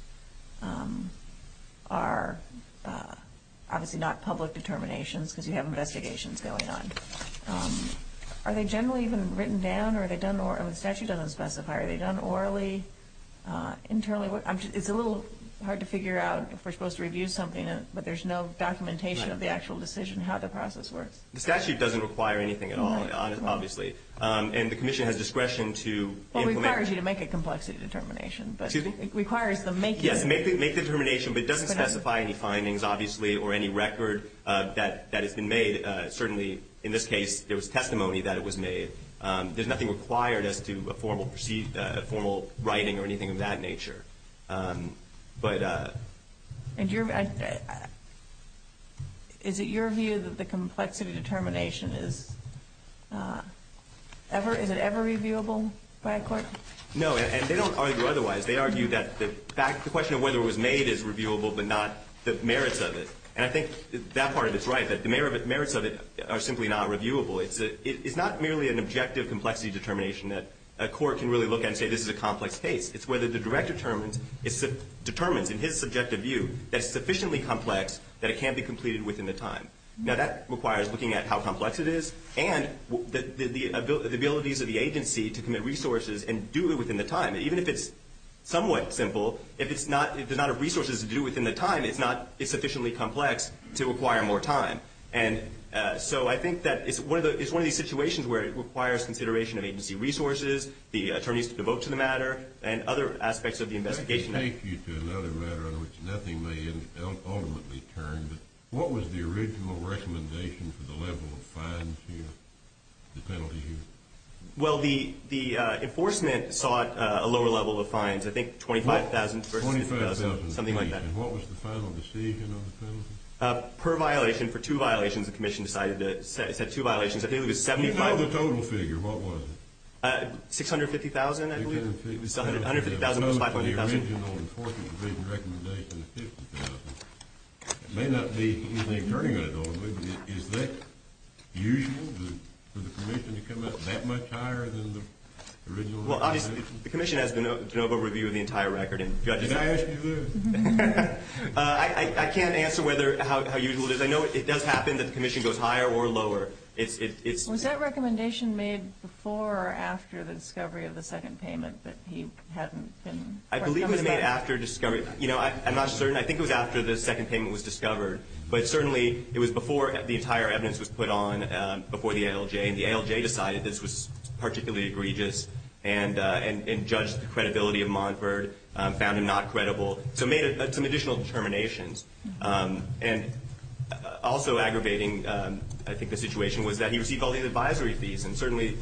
are obviously not public determinations because you have investigations going on. Are they generally even written down, or are they done – if the statute doesn't specify, are they done orally, internally? It's a little hard to figure out if we're supposed to review something, but there's no documentation of the actual decision, how the process works. The statute doesn't require anything at all, obviously, and the Commission has discretion to implement. Well, it requires you to make a complexity determination, but it requires the making. Yes, make the determination, but it doesn't specify any findings, obviously, or any record that has been made. Certainly, in this case, there was testimony that it was made. There's nothing required as to a formal writing or anything of that nature. Is it your view that the complexity determination is – is it ever reviewable by a court? No, and they don't argue otherwise. They argue that the question of whether it was made is reviewable, but not the merits of it. And I think that part of it is right, that the merits of it are simply not reviewable. It's not merely an objective complexity determination that a court can really look at and say this is a complex case. It's whether the director determines in his subjective view that it's sufficiently complex that it can be completed within the time. Now, that requires looking at how complex it is and the abilities of the agency to commit resources and do it within the time. Even if it's somewhat simple, if it does not have resources to do it within the time, it's not sufficiently complex to require more time. And so I think that it's one of these situations where it requires consideration of agency resources, the attorneys to devote to the matter, and other aspects of the investigation. I can take you to another matter on which nothing may ultimately turn, but what was the original recommendation for the level of fines here, the penalty here? Well, the enforcement sought a lower level of fines, I think $25,000 versus $50,000. $25,000. Something like that. And what was the final decision on the penalty? Per violation, for two violations, the commission decided to set two violations. You know the total figure. What was it? $650,000, I believe. $650,000. It was $150,000 versus $500,000. It goes to the original enforcement provision recommendation of $50,000. It may not be anything turning on it, though, I believe. Is that usual for the commission to come out that much higher than the original recommendation? Well, obviously, the commission has the general overview of the entire record. Did I ask you this? I can't answer how usual it is. I know it does happen that the commission goes higher or lower. Was that recommendation made before or after the discovery of the second payment that he hadn't been? I believe it was made after discovery. You know, I'm not certain. I think it was after the second payment was discovered. But certainly it was before the entire evidence was put on before the ALJ. And the ALJ decided this was particularly egregious and judged the credibility of Montford, found him not credible, so made some additional determinations. And also aggravating, I think, the situation was that he received all the advisory fees. And certainly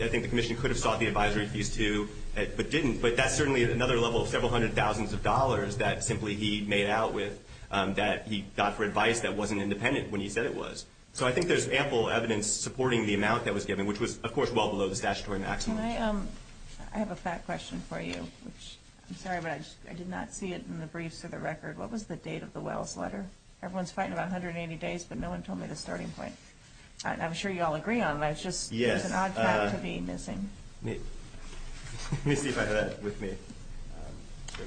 I think the commission could have sought the advisory fees, too, but didn't. But that's certainly another level of several hundred thousands of dollars that simply he made out with that he got for advice that wasn't independent when he said it was. So I think there's ample evidence supporting the amount that was given, which was, of course, well below the statutory maximum. I have a fact question for you. I'm sorry, but I did not see it in the briefs or the record. What was the date of the Wells letter? Everyone's fighting about 180 days, but no one told me the starting point. I'm sure you all agree on that. It's just there's an odd cap to be missing. Let me see if I have that with me.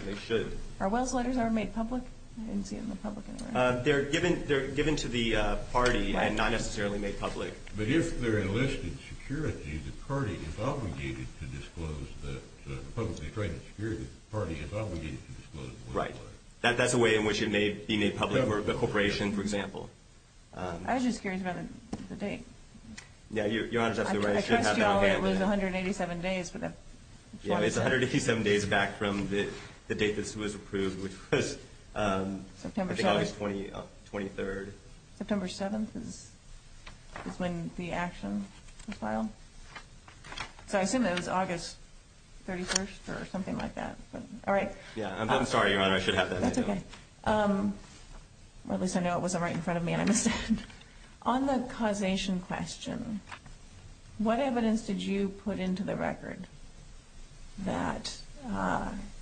They should. Are Wells letters ever made public? I didn't see it in the public anyway. They're given to the party and not necessarily made public. But if they're enlisted security, the party is obligated to disclose that. Right. That's a way in which it may be made public. The corporation, for example. I was just curious about the date. Yeah, Your Honor is absolutely right. I should have that on hand. I trust you all that it was 187 days. Yeah, it's 187 days back from the date this was approved, which was I think August 23rd. September 7th is when the action was filed. So I assume that it was August 31st or something like that. All right. I'm sorry, Your Honor. I should have that. That's okay. At least I know it wasn't right in front of me and I missed it. On the causation question, what evidence did you put into the record that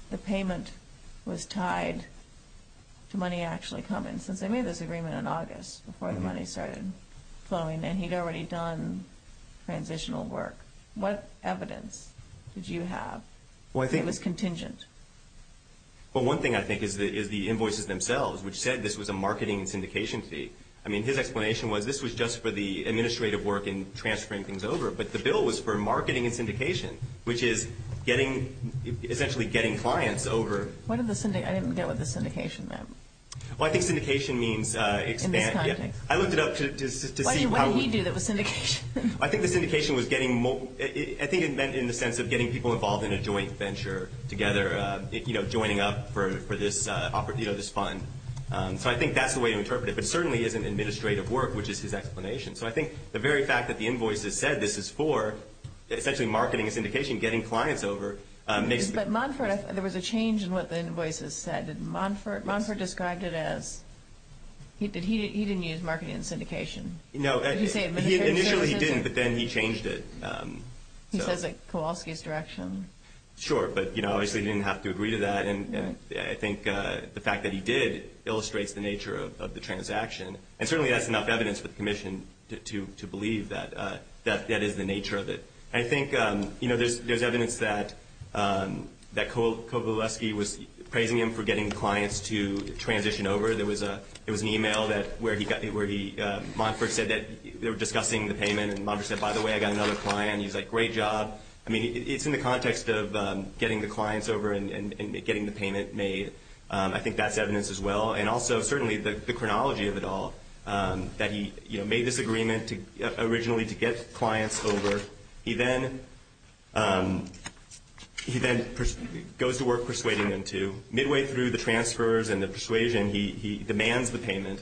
the payment was tied to money actually coming? Since they made this agreement in August before the money started flowing and he'd already done transitional work, what evidence did you have that it was contingent? Well, one thing I think is the invoices themselves, which said this was a marketing and syndication fee. I mean, his explanation was this was just for the administrative work in transferring things over. But the bill was for marketing and syndication, which is essentially getting clients over. I didn't get what the syndication meant. Well, I think syndication means expand. In this context. I looked it up to see how. What did he do that was syndication? I think the syndication was getting more. I think it meant in the sense of getting people involved in a joint venture together, you know, joining up for this fund. So I think that's the way to interpret it. But it certainly isn't administrative work, which is his explanation. So I think the very fact that the invoices said this is for essentially marketing and syndication, getting clients over. But Monfort, there was a change in what the invoices said. Did Monfort. Monfort described it as he did. He didn't use marketing and syndication. No. Initially he didn't. But then he changed it. He says it's Kowalski's direction. Sure. But, you know, obviously he didn't have to agree to that. And I think the fact that he did illustrates the nature of the transaction. And certainly that's enough evidence for the commission to believe that that is the nature of it. I think, you know, there's evidence that Kowalski was praising him for getting clients to transition over. There was an e-mail where Monfort said that they were discussing the payment. And Monfort said, by the way, I got another client. And he was like, great job. I mean, it's in the context of getting the clients over and getting the payment made. I think that's evidence as well. And also certainly the chronology of it all, that he made this agreement originally to get clients over. He then goes to work persuading them to. Midway through the transfers and the persuasion, he demands the payment.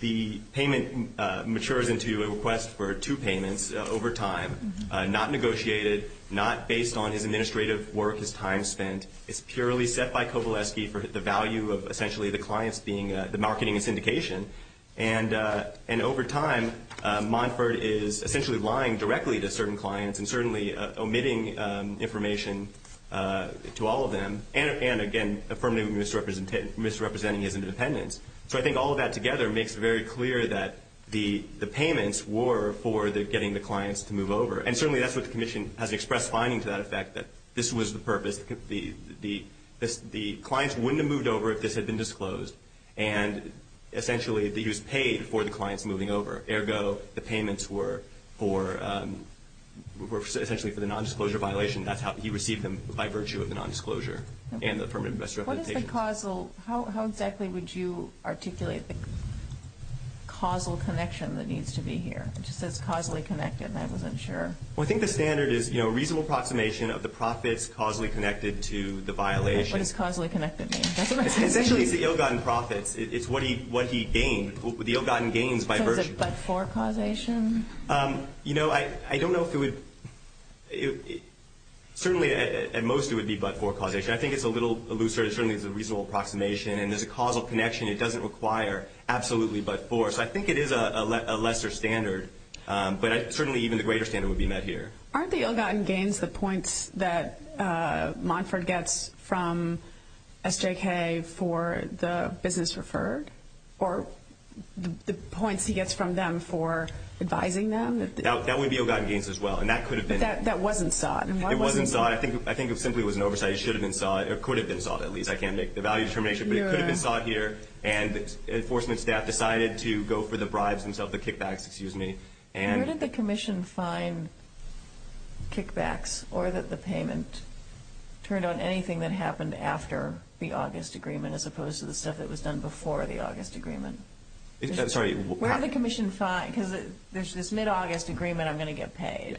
The payment matures into a request for two payments over time, not negotiated, not based on his administrative work, his time spent. It's purely set by Kowalski for the value of essentially the clients being the marketing and syndication. And over time, Monfort is essentially lying directly to certain clients and certainly omitting information to all of them and, again, firmly misrepresenting his independence. So I think all of that together makes it very clear that the payments were for getting the clients to move over. And certainly that's what the commission has expressed finding to that effect, that this was the purpose. The clients wouldn't have moved over if this had been disclosed. And essentially he was paid for the clients moving over. Ergo, the payments were essentially for the nondisclosure violation. That's how he received them, by virtue of the nondisclosure and the permanent investor representation. How exactly would you articulate the causal connection that needs to be here? It just says causally connected, and I wasn't sure. Well, I think the standard is a reasonable approximation of the profits causally connected to the violation. What does causally connected mean? Essentially it's the ill-gotten profits. It's what he gained, the ill-gotten gains by virtue. So is it but-for causation? You know, I don't know if it would – certainly at most it would be but-for causation. I think it's a little looser. It certainly is a reasonable approximation. And there's a causal connection. It doesn't require absolutely but-for. So I think it is a lesser standard, but certainly even the greater standard would be met here. Aren't the ill-gotten gains the points that Monford gets from SJK for the business referred? Or the points he gets from them for advising them? That would be ill-gotten gains as well, and that could have been. But that wasn't sought. It wasn't sought. I think it simply was an oversight. It should have been sought, or could have been sought at least. I can't make the value determination, but it could have been sought here. And enforcement staff decided to go for the bribes themselves, the kickbacks, excuse me. Where did the commission find kickbacks or that the payment turned on anything that happened after the August agreement as opposed to the stuff that was done before the August agreement? Sorry. Where did the commission find – because there's this mid-August agreement I'm going to get paid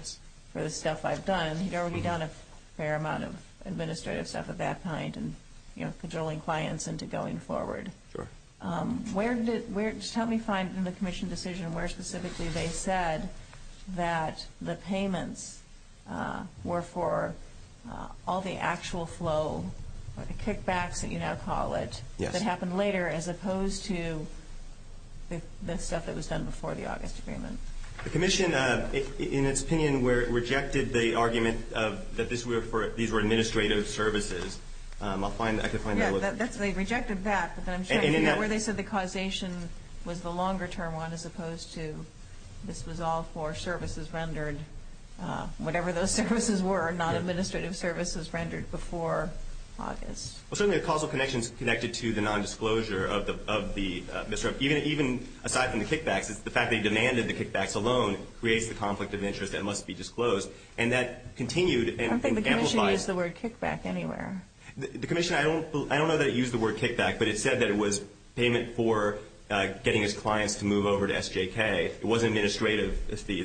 for the stuff I've done. He'd already done a fair amount of administrative stuff of that kind and, you know, cajoling clients into going forward. Sure. Where did – just help me find in the commission decision where specifically they said that the payments were for all the actual flow, the kickbacks that you now call it, that happened later as opposed to the stuff that was done before the August agreement. The commission, in its opinion, rejected the argument that these were administrative services. I'll find – I can find that. Yeah. They rejected that, but then I'm sure – And in that – Where they said the causation was the longer-term one as opposed to this was all for services rendered, whatever those services were, not administrative services rendered before August. Well, certainly the causal connection is connected to the nondisclosure of the – even aside from the kickbacks, the fact that he demanded the kickbacks alone creates the conflict of interest that must be disclosed. And that continued and amplifies – I don't think the commission used the word kickback anywhere. The commission – I don't know that it used the word kickback, but it said that it was payment for getting his clients to move over to SJK. It wasn't administrative.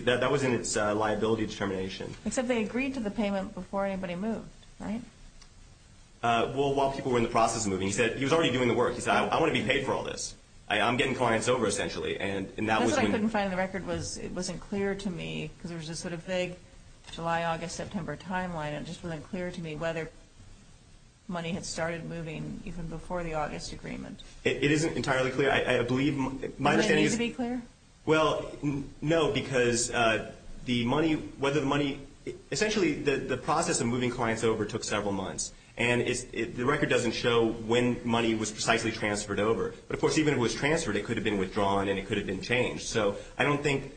That was in its liability determination. Except they agreed to the payment before anybody moved, right? Well, while people were in the process of moving, he said – he was already doing the work. He said, I want to be paid for all this. I'm getting clients over, essentially. And that was when – That's what I couldn't find in the record was it wasn't clear to me, because there was this sort of vague July, August, September timeline, and it just wasn't clear to me whether money had started moving even before the August agreement. It isn't entirely clear. I believe – my understanding is – Does it need to be clear? Well, no, because the money – whether the money – essentially, the process of moving clients over took several months. And the record doesn't show when money was precisely transferred over. But, of course, even if it was transferred, it could have been withdrawn and it could have been changed. So I don't think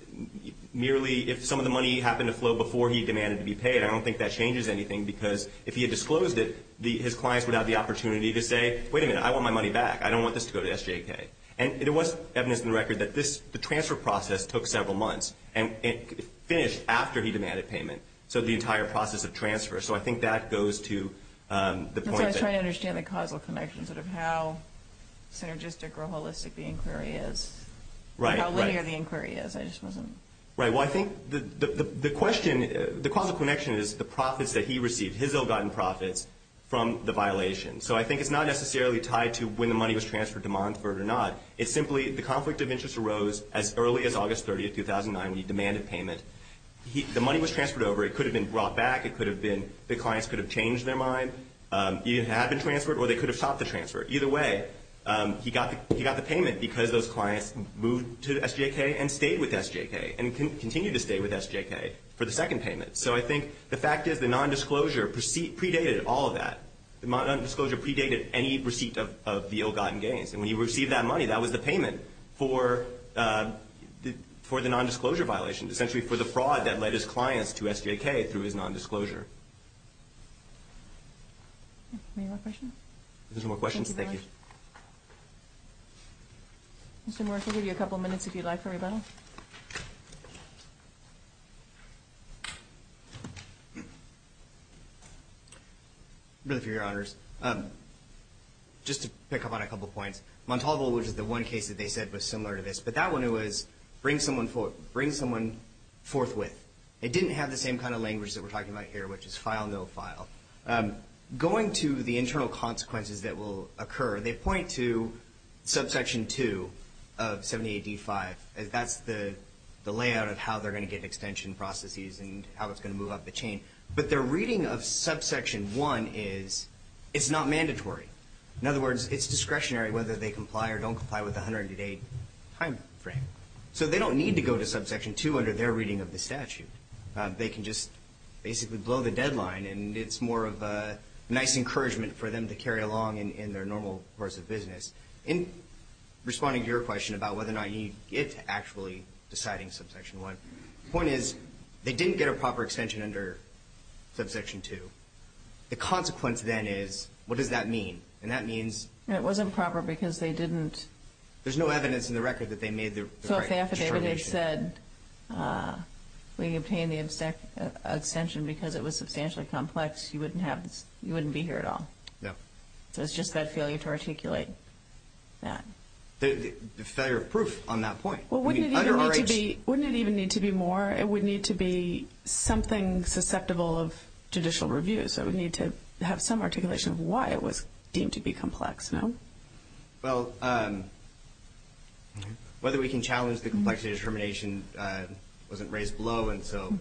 merely if some of the money happened to flow before he demanded to be paid, I don't think that changes anything because if he had disclosed it, his clients would have the opportunity to say, wait a minute, I want my money back. I don't want this to go to SJK. And there was evidence in the record that this – the transfer process took several months, and it finished after he demanded payment, so the entire process of transfer. So I think that goes to the point that – How logistic or holistic the inquiry is. Right, right. How linear the inquiry is. I just wasn't – Right, well, I think the question – the causal connection is the profits that he received, his ill-gotten profits from the violation. So I think it's not necessarily tied to when the money was transferred to Montford or not. It's simply the conflict of interest arose as early as August 30, 2009, when he demanded payment. The money was transferred over. It could have been brought back. It could have been – the clients could have changed their mind. It had been transferred or they could have stopped the transfer. Either way, he got the payment because those clients moved to SJK and stayed with SJK and continued to stay with SJK for the second payment. So I think the fact is the nondisclosure predated all of that. The nondisclosure predated any receipt of the ill-gotten gains. And when he received that money, that was the payment for the nondisclosure violation, essentially for the fraud that led his clients to SJK through his nondisclosure. Any more questions? There's no more questions? Thank you. Mr. Morris, we'll give you a couple minutes, if you'd like, for rebuttal. Really, for your honors, just to pick up on a couple points, Montalvo, which is the one case that they said was similar to this, but that one was bring someone forthwith. It didn't have the same kind of language that we're talking about here, which is file, no file. Going to the internal consequences that will occur, they point to subsection 2 of 70AD5. That's the layout of how they're going to get extension processes and how it's going to move up the chain. But their reading of subsection 1 is it's not mandatory. In other words, it's discretionary whether they comply or don't comply with the 108 timeframe. So they don't need to go to subsection 2 under their reading of the statute. They can just basically blow the deadline, and it's more of a nice encouragement for them to carry along in their normal course of business. In responding to your question about whether or not you need it actually deciding subsection 1, the point is they didn't get a proper extension under subsection 2. The consequence then is, what does that mean? And that means? It wasn't proper because they didn't. There's no evidence in the record that they made the right determination. If they said we obtained the extension because it was substantially complex, you wouldn't be here at all. Yeah. So it's just that failure to articulate that. The failure of proof on that point. Well, wouldn't it even need to be more? It would need to be something susceptible of judicial review, so it would need to have some articulation of why it was deemed to be complex, no? Well, whether we can challenge the complexity determination wasn't raised below, and so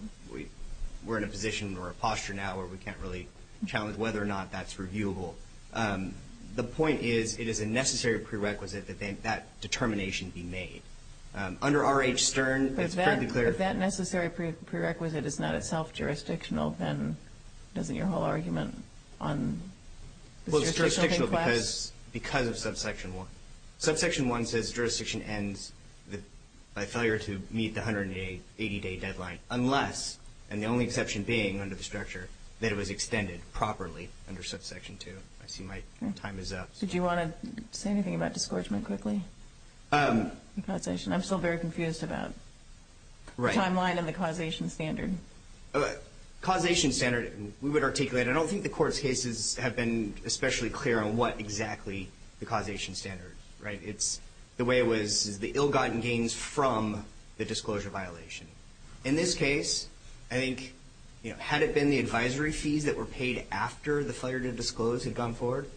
we're in a position or a posture now where we can't really challenge whether or not that's reviewable. The point is it is a necessary prerequisite that that determination be made. Under R.H. Stern, it's fairly clear. If that necessary prerequisite is not itself jurisdictional, then doesn't your whole argument on the jurisdiction class? Because of Subsection 1. Subsection 1 says jurisdiction ends by failure to meet the 180-day deadline unless, and the only exception being under the structure, that it was extended properly under Subsection 2. I see my time is up. Did you want to say anything about discouragement quickly? I'm still very confused about the timeline and the causation standard. Causation standard, we would articulate it. I don't think the Court's cases have been especially clear on what exactly the causation standard, right? The way it was is the ill-gotten gains from the disclosure violation. In this case, I think had it been the advisory fees that were paid after the failure to disclose had gone forward,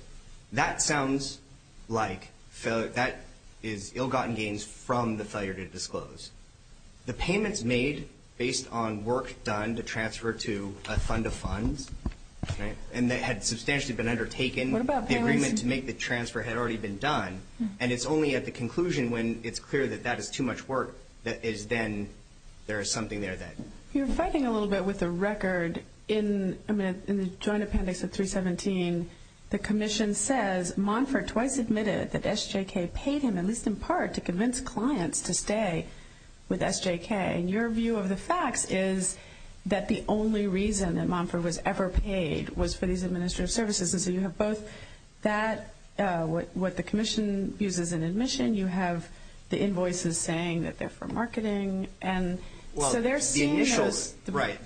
that sounds like that is ill-gotten gains from the failure to disclose. The payments made based on work done to transfer to a fund of funds, right, and that had substantially been undertaken. What about payments? The agreement to make the transfer had already been done, and it's only at the conclusion when it's clear that that is too much work that is then there is something there that. You're fighting a little bit with the record. In the joint appendix of 317, the commission says, Monfort twice admitted that SJK paid him, at least in part, to convince clients to stay with SJK. And your view of the facts is that the only reason that Monfort was ever paid was for these administrative services. And so you have both that, what the commission views as an admission. You have the invoices saying that they're for marketing. And so they're seeing the rationale as quite different.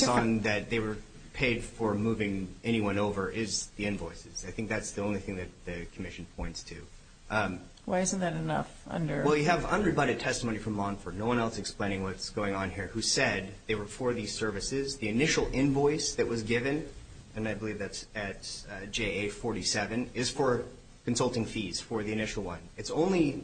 The only one that they were paid for moving anyone over is the invoices. I think that's the only thing that the commission points to. Why isn't that enough? Well, you have unrebutted testimony from Monfort, no one else explaining what's going on here, who said they were for these services. The initial invoice that was given, and I believe that's at JA 47, is for consulting fees for the initial one. It's only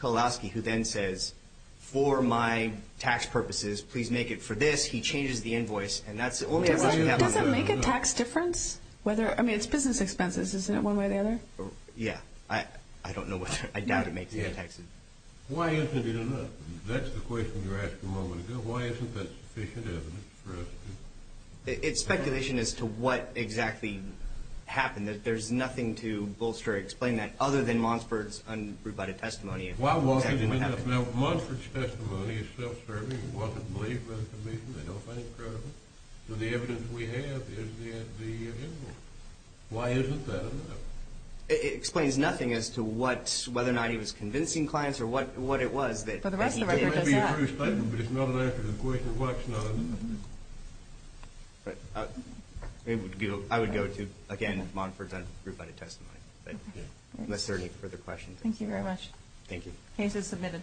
Kalowski who then says, for my tax purposes, please make it for this. He changes the invoice. And that's the only evidence we have on that. Does it make a tax difference? I mean, it's business expenses, isn't it, one way or the other? Yeah. I don't know. I doubt it makes any taxes. Why isn't it enough? That's the question you were asking a moment ago. Why isn't that sufficient evidence for us to do? It's speculation as to what exactly happened. There's nothing to bolster or explain that other than Monfort's unrebutted testimony. Why wasn't it enough? Now, Monfort's testimony is self-serving. It wasn't believed by the commission. They don't find it credible. So the evidence we have is the invoice. Why isn't that enough? It explains nothing as to whether or not he was convincing clients or what it was. For the rest of the record, it's not. It may be a true statement, but it's not an answer to the question of what's not enough. All right. I would go to, again, Monfort's unrebutted testimony. Unless there are any further questions. Thank you very much. Thank you. Case is submitted.